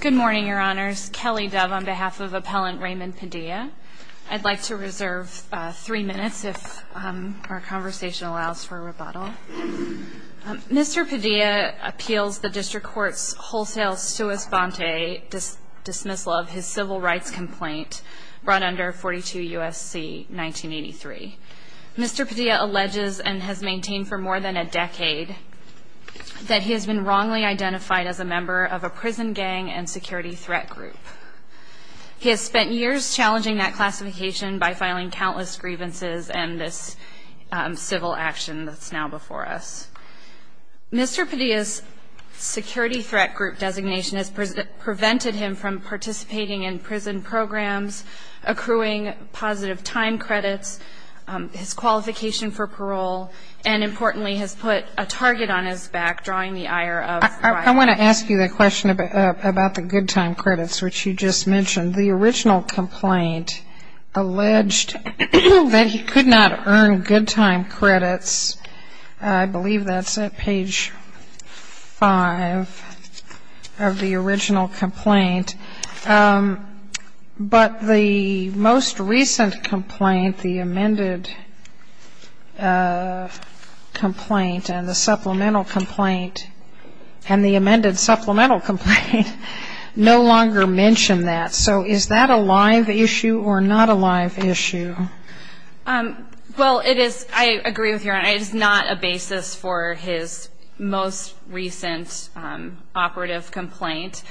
Good morning, your honors. Kelly Dove on behalf of Appellant Raymond Padilla. I'd like to reserve three minutes if our conversation allows for a rebuttal. Mr. Padilla appeals the District Court's wholesale sua sponte dismissal of his civil rights complaint brought under 42 U.S.C. 1983. Mr. Padilla alleges and has maintained for more than a decade that he has been wrongly identified as a member of a prison gang and security threat group. He has spent years challenging that classification by filing countless grievances and this civil action that's now before us. Mr. Padilla's security threat group designation has prevented him from participating in prison programs, accruing positive time credits, his qualification for parole, and importantly has put a target on his back, drawing the ire of crime. I want to ask you the question about the good time credits, which you just mentioned. The original complaint alleged that he could not earn good time credits. I believe that's at page 5 of the original complaint. But the most recent complaint, the amended version of that complaint and the supplemental complaint and the amended supplemental complaint no longer mention that. So is that a live issue or not a live issue? Well, it is. I agree with you, Your Honor. It is not a basis for his most recent operative complaint.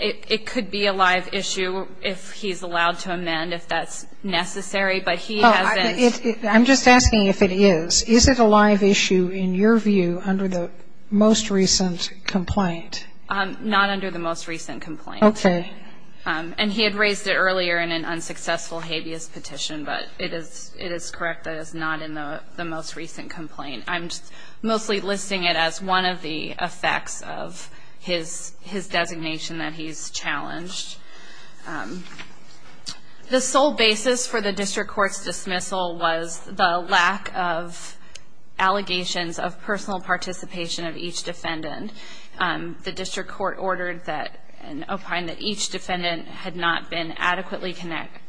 It could be a live issue if he's allowed to amend, if that's necessary. But he hasn't I'm just asking if it is. Is it a live issue in your view under the most recent complaint? Not under the most recent complaint. Okay. And he had raised it earlier in an unsuccessful habeas petition, but it is correct that it's not in the most recent complaint. I'm mostly listing it as one of the effects of his designation that he's challenged. The sole basis for the district court's dismissal was the lack of allegations of personal participation of each defendant. The district court ordered that and opined that each defendant had not been adequately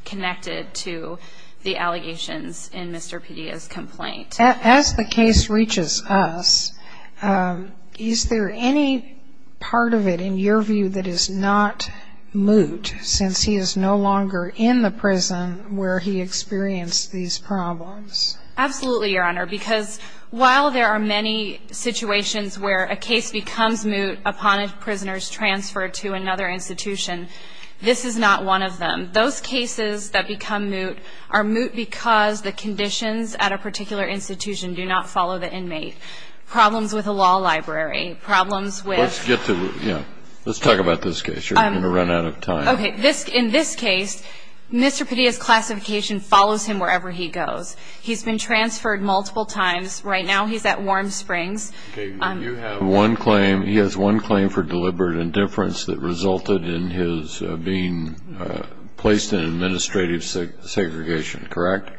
connected to the allegations in Mr. Pedia's complaint. As the case reaches us, is there any part of it in your view that is not moot since he is no longer in the prison where he experienced these problems? Absolutely, Your Honor, because while there are many situations where a case becomes moot upon a prisoner's transfer to another institution, this is not one of them. Those cases that do not follow the inmate. Problems with a law library. Problems with... Let's talk about this case. You're going to run out of time. In this case, Mr. Pedia's classification follows him wherever he goes. He's been transferred multiple times. Right now he's at Warm Springs. He has one claim for deliberate indifference that resulted in his being placed in administrative segregation, correct?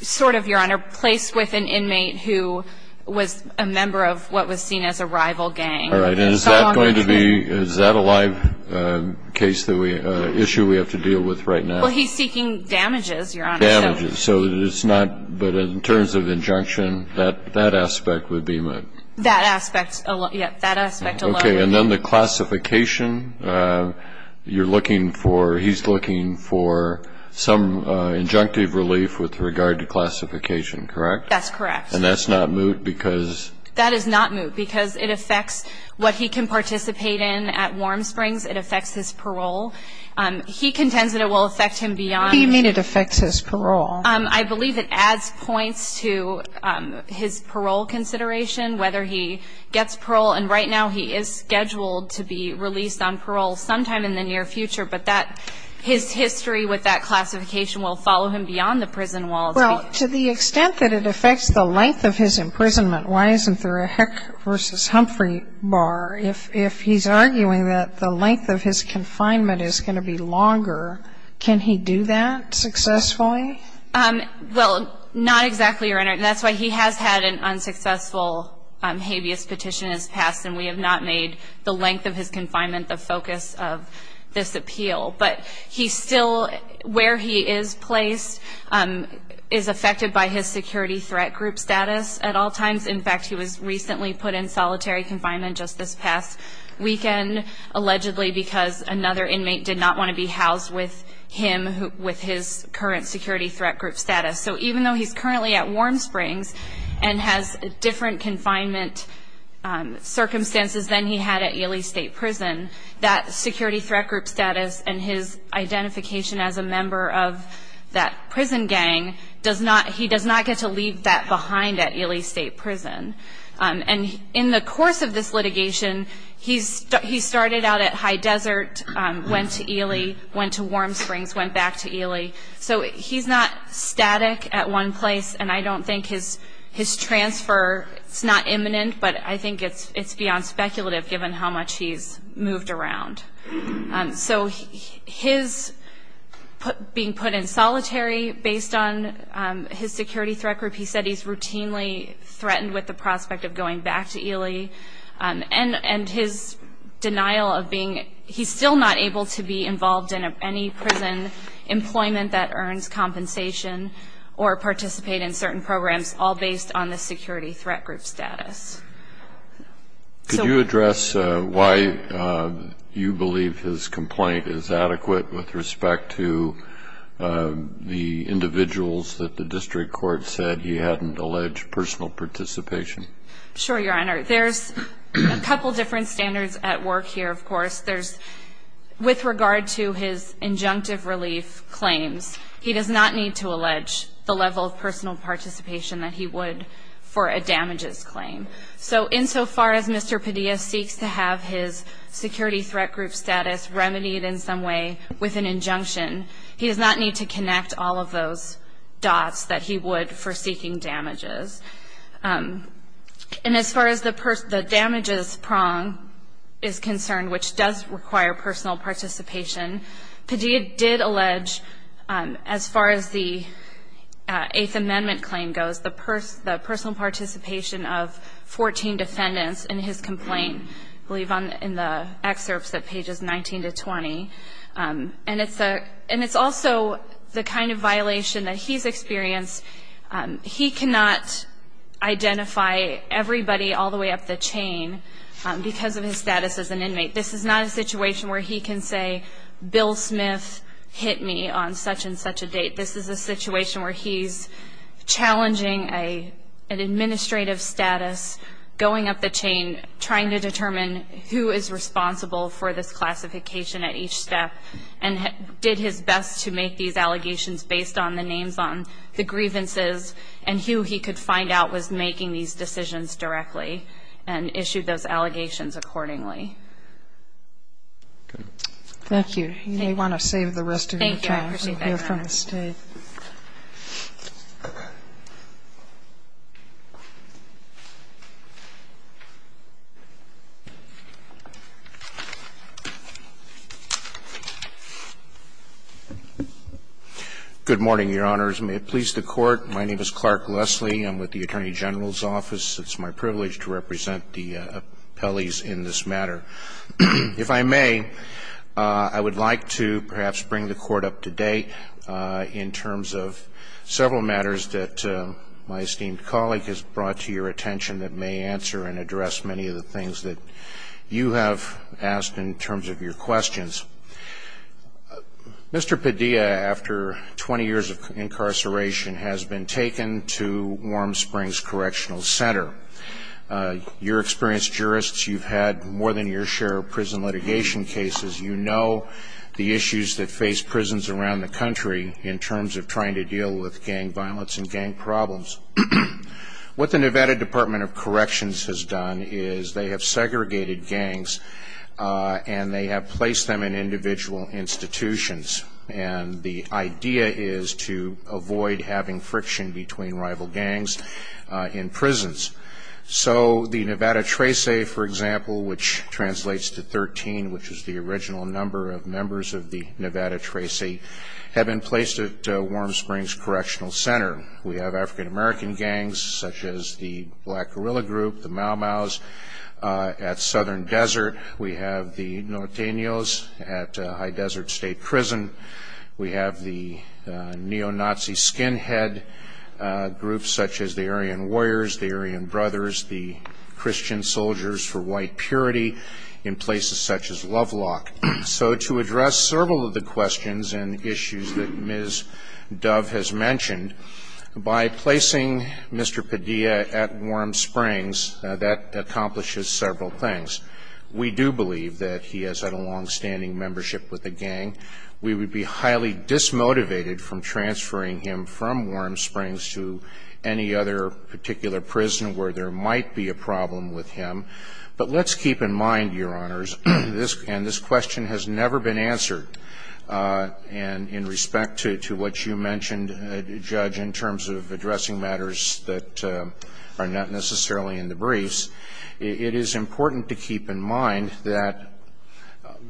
Sort of, Your Honor. Placed with an inmate who was a member of what was seen as a rival gang. All right. And is that going to be, is that a live case that we, issue we have to deal with right now? Well, he's seeking damages, Your Honor. Damages. So it's not, but in terms of injunction, that aspect would be moot. That aspect, yes, that aspect alone would be moot. Okay. And then the classification, you're looking for, he's looking for some injunctive relief with regard to classification, correct? That's correct. And that's not moot because... That is not moot because it affects what he can participate in at Warm Springs. It affects his parole. He contends that it will affect him beyond... What do you mean it affects his parole? I believe it adds points to his parole consideration, whether he gets parole. And right now he is scheduled to be released on parole sometime in the near future. But that, his history with that classification will follow him beyond the prison walls. Well, to the extent that it affects the length of his imprisonment, why isn't there a Heck v. Humphrey bar? If he's arguing that the length of his confinement is going to be longer, can he do that successfully? Well, not exactly, Your Honor. And that's why he has had an unsuccessful habeas petition as passed, and we have not made the length of his confinement the focus of this appeal. But he still, where he is placed, is affected by his security threat group status at all times. In fact, he was recently put in solitary confinement just this past weekend, allegedly because another inmate did not want to be housed with him with his current security threat group status. So even though he's currently at Warm Springs and has different confinement circumstances than he had at Ely State Prison, that security threat group status and his identification as a member of that prison gang, he does not get to leave that behind at Ely State Prison. And in the course of this litigation, he started out at High Desert, went to Ely, went to Warm Springs, went back to Ely. So he's not static at one place, and I don't think his transfer, it's not imminent, but I think it's beyond speculative given how much he's moved around. So his being put in solitary based on his security threat group, he said he's routinely threatened with the prospect of going back to Ely. And his denial of being, he's still not able to be involved in any prison employment that earns compensation or participate in certain programs, all based on the security threat group status. So... Could you address why you believe his complaint is adequate with respect to the individuals that the district court said he hadn't alleged personal participation? Sure, Your Honor. There's a couple different standards at work here, of course. There's, with regard to his injunctive relief claims, he does not need to allege the level of personal participation that he would for a damages claim. So insofar as Mr. Padilla seeks to have his security threat group status remedied in some way with an injunction, he does not need to connect all of those dots that he would for seeking damages. And as far as the damages prong is concerned, which does require personal participation, Padilla did allege, as far as the Eighth Amendment claim goes, the personal participation of 14 defendants in his complaint, I believe in the excerpts at pages 19 to 20. And it's also the kind of violation that he's experienced. He cannot identify everybody all the way up the chain because of his status as an inmate. This is not a situation where he can say Bill Smith hit me on such and such a date. This is a situation where he's challenging an administrative status, going up the chain, trying to determine who is responsible for this classification at each step, and did his best to make these allegations based on the names on the grievances and who he could find out was making these decisions directly and issued those allegations accordingly. Thank you. You may want to save the rest of your time so we can hear from the State. Good morning, Your Honors. May it please the Court. My name is Clark Leslie. I'm with the Attorney General's Office. It's my privilege to represent the appellees in this matter. If I may, I would like to perhaps bring the Court up to date in terms of several matters that my esteemed colleague has brought to your attention that may you have asked in terms of your questions. Mr. Padilla, after 20 years of incarceration, has been taken to Warm Springs Correctional Center. You're experienced jurists. You've had more than your share of prison litigation cases. You know the issues that face prisons around the country in terms of trying to deal with gang violence and gang problems. What the Nevada Department of Corrections has done is they have segregated gangs and they have placed them in individual institutions. And the idea is to avoid having friction between rival gangs in prisons. So the Nevada Tracee, for example, which translates to 13, which is the original number of members of the Nevada Tracee, have been placed at Warm Springs Correctional Center. They have segregated gangs such as the Black Guerrilla Group, the Mau Maus at Southern Desert. We have the Norteños at High Desert State Prison. We have the neo-Nazi skinhead groups such as the Aryan Warriors, the Aryan Brothers, the Christian Soldiers for White Purity in places such as Lovelock. So to address several of the questions and Mr. Padilla at Warm Springs, that accomplishes several things. We do believe that he has had a longstanding membership with the gang. We would be highly dismotivated from transferring him from Warm Springs to any other particular prison where there might be a problem with him. But let's keep in mind, Your Honors, this question has never been answered. And in respect to what you mentioned, Judge, in terms of addressing matters that are not necessarily in the briefs, it is important to keep in mind that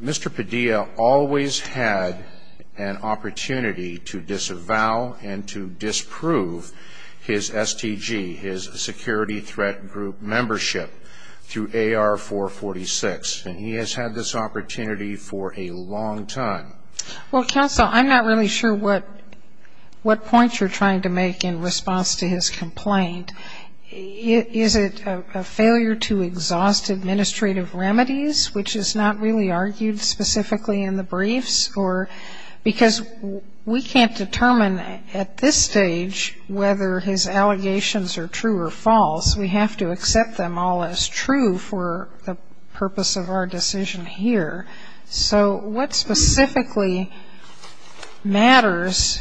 Mr. Padilla always had an opportunity to disavow and to disprove his STG, his Security Threat Group membership, through AR446. And he has had this opportunity for a long time. Well, Counsel, I'm not really sure what points you're trying to make in response to his complaint. Is it a failure to exhaust administrative remedies, which is not really argued specifically in the briefs? Because we can't determine at this stage whether his allegations are true or false. We have to accept them all as true for the purpose of our decision here. So what specifically matters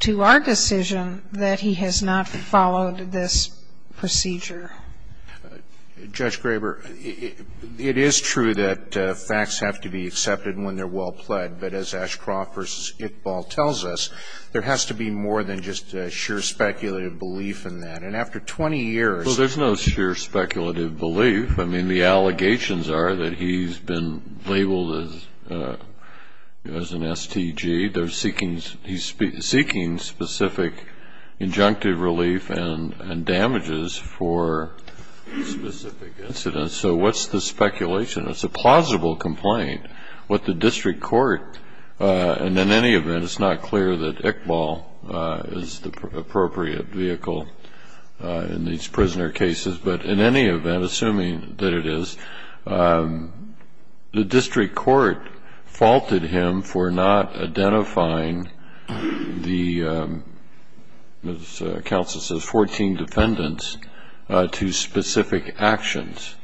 to our decision that he has not followed this procedure? Judge Graber, it is true that facts have to be accepted when they're well pled, but as Ashcroft v. Iqbal tells us, there has to be more than just a sheer speculative belief in that. And after 20 years – Well, there's no sheer speculative belief. I mean, the allegations are that he's been labeled as an STG. He's seeking specific injunctive relief and damages for specific incidents. So what's the speculation? It's a plausible complaint. What the district court – and in any event, it's not clear that Iqbal is the appropriate vehicle in these cases. The district court faulted him for not identifying the – as counsel says, 14 defendants – to specific actions.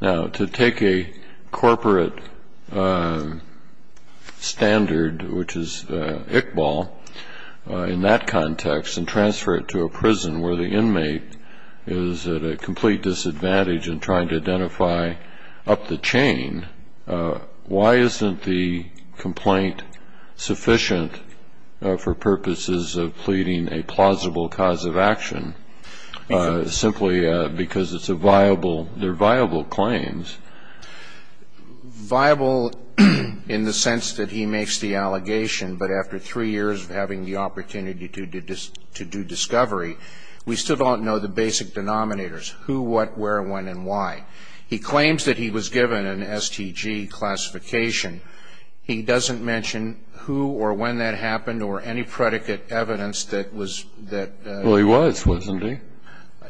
Now, to take a corporate standard, which is Iqbal, in that context and transfer it to a prison where the inmate is at a complete disadvantage in trying to escape, why isn't the complaint sufficient for purposes of pleading a plausible cause of action, simply because it's a viable – they're viable claims? Viable in the sense that he makes the allegation, but after three years of having the opportunity to do discovery, we still don't know the basic denominators – who, what, where, when and why. He claims that he was given an STG classification. He doesn't mention who or when that happened or any predicate evidence that was – that – Well, he was, wasn't he?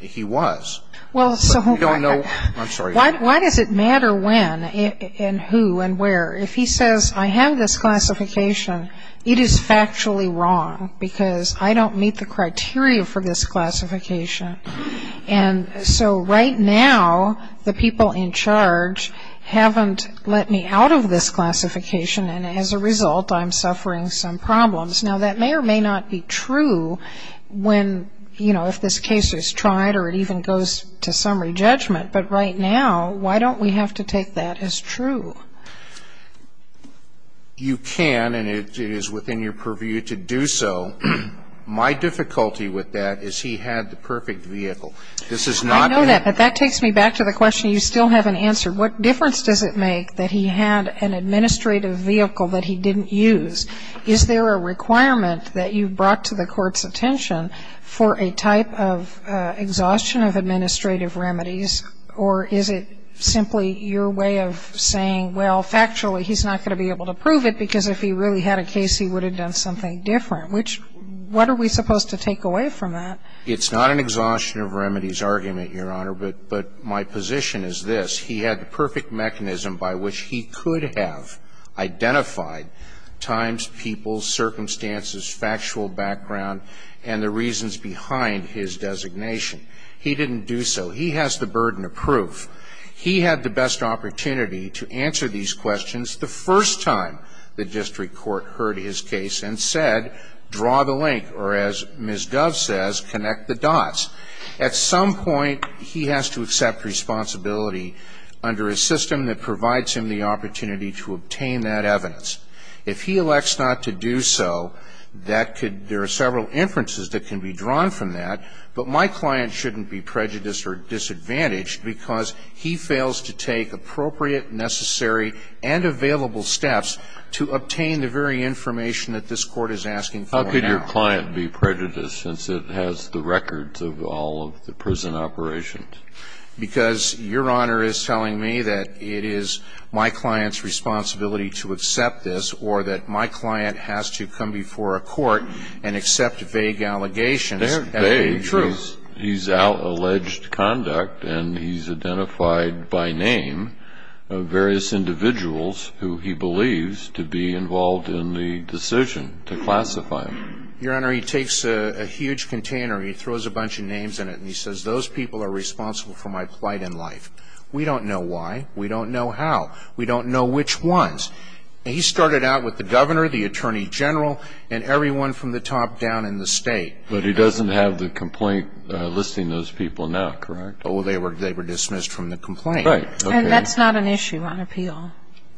He was. Well, so – We don't know – I'm sorry. Why does it matter when and who and where? If he says, I have this classification, it is factually wrong, because I don't meet the criteria for this classification. And so right now, the people in charge haven't let me out of this classification, and as a result, I'm suffering some problems. Now, that may or may not be true when, you know, if this case is tried or it even goes to summary judgment, but right now, why don't we have to take that as true? You can, and it is within your purview to do so. My difficulty with that is he had the I know that, but that takes me back to the question you still haven't answered. What difference does it make that he had an administrative vehicle that he didn't use? Is there a requirement that you brought to the Court's attention for a type of exhaustion of administrative remedies, or is it simply your way of saying, well, factually, he's not going to be able to prove it, because if he really had a case, he would have done something different, which – what are we supposed to take away from that? It's not an exhaustion of remedies argument, Your Honor, but my position is this. He had the perfect mechanism by which he could have identified times, people, circumstances, factual background, and the reasons behind his designation. He didn't do so. He has the burden of proof. He had the best opportunity to answer these questions the first time the district court heard his case and said, draw the link, or as Ms. Dove says, connect the dots. At some point, he has to accept responsibility under a system that provides him the opportunity to obtain that evidence. If he elects not to do so, that could – there are several inferences that can be drawn from that, but my client shouldn't be prejudiced or disadvantaged because he fails to take appropriate, necessary, and available steps to obtain the very information that this Court is asking for now. How could your client be prejudiced, since it has the records of all of the prison operations? Because Your Honor is telling me that it is my client's responsibility to accept this, or that my client has to come before a court and accept vague allegations. They're vague. He's out alleged conduct, and he's identified by name various individuals who he believes to be involved in the decision to classify him. Your Honor, he takes a huge container, he throws a bunch of names in it, and he says, those people are responsible for my plight in life. We don't know why. We don't know how. We don't know which ones. He started out with the governor, the attorney general, and everyone from the top down in the state. But he doesn't have the complaint listing those people now, correct? Oh, they were dismissed from the complaint. Right. And that's not an issue on appeal.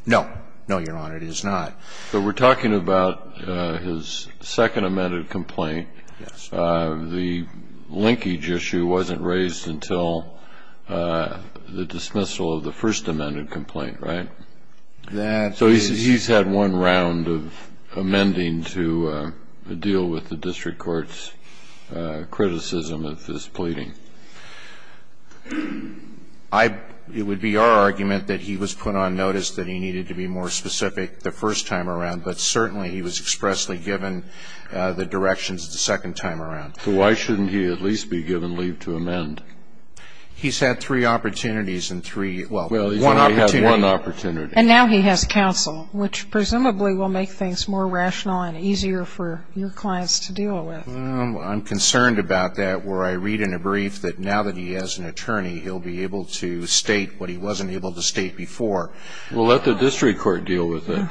No. No, Your Honor, it is not. But we're talking about his second amended complaint. Yes. The linkage issue wasn't raised until the dismissal of the first amended complaint, right? That is... We've had several such cases where we've had a very, very specific criticism of this pleading. I – it would be our argument that he was put on notice that he needed to be more specific the first time around. But certainly, he was expressly given the directions the second time around. So why shouldn't he at least be given leave to amend? He's had three opportunities in three – well, one opportunity. And now he has counsel, which presumably will make things more rational and easier for your clients to deal with. Well, I'm concerned about that where I read in a brief that now that he has an attorney, he'll be able to state what he wasn't able to state before. Well, let the district court deal with it.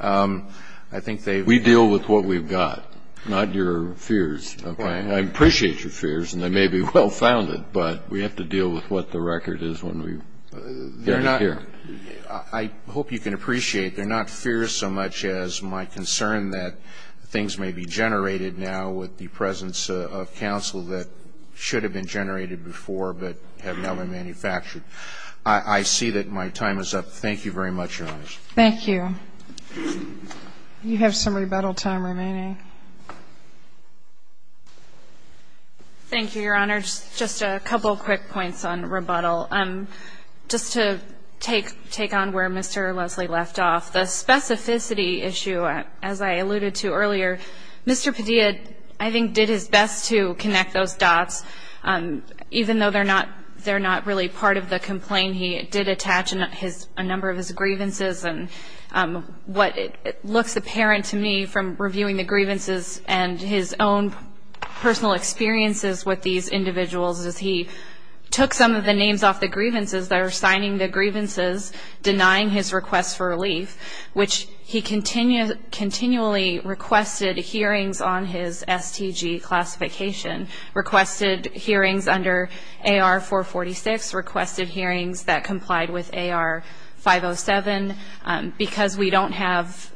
I think they've – We deal with what we've got, not your fears. Okay. I appreciate your fears, and they may be well-founded, but we have to deal with what the record is when we – They're not – They're not here. I hope you can appreciate, they're not fears so much as my concern that things may be generated now with the presence of counsel that should have been generated before but have never manufactured. I see that my time is up. Thank you very much, Your Honors. Thank you. You have some rebuttal time remaining. Thank you, Your Honors. Just a couple quick points on rebuttal. Just to take on where Mr. Leslie left off, the specificity issue, as I alluded to earlier, Mr. Padilla I think did his best to connect those dots, even though they're not really part of the complaint. He did attach a number of his grievances, and what looks apparent to me from reviewing the grievances and his own personal experiences with these individuals is he took some of the names off the grievances that are signing the grievances, denying his request for relief, which he continually requested hearings on his STG classification, requested hearings under AR-446, requested hearings that complied with AR-507. Because we don't have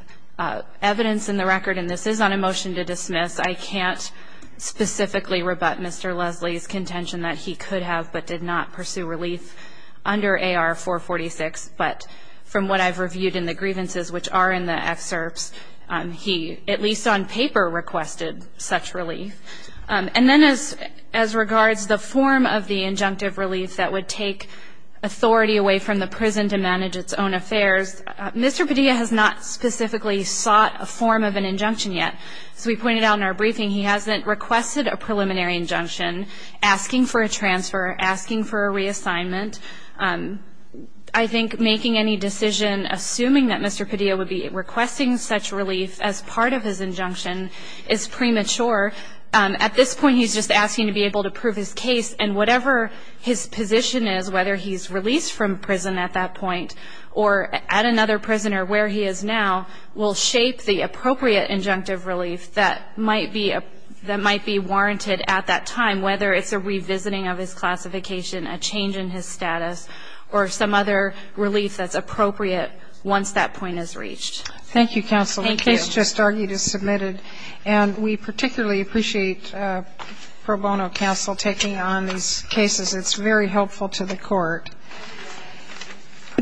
evidence in the record, and this is on a motion to dismiss, I can't specifically rebut Mr. Leslie's contention that he could have but did not pursue relief under AR-446. But from what I've reviewed in the grievances, which are in the excerpts, he at least on paper requested such relief. And then as regards the form of the injunctive relief that would take authority away from the prison to manage its own affairs, Mr. Padilla has not specifically sought a form of an injunction yet. As we pointed out in our briefing, he hasn't requested a preliminary injunction, asking for a transfer, asking for a reassignment. I think making any decision assuming that Mr. Padilla would be requesting such relief as part of his injunction is premature. At this point he's just asking to be able to prove his case, and whatever his position is, whether he's released from prison at that point, or at another prison or where he is now, will shape the appropriate injunctive relief that might be warranted at that time, whether it's a revisiting of his classification, a change in his status, or some other relief that's appropriate once that point is reached. Thank you, counsel. The case just argued is submitted, and we particularly appreciate pro bono counsel taking on these cases. It's very helpful to the court.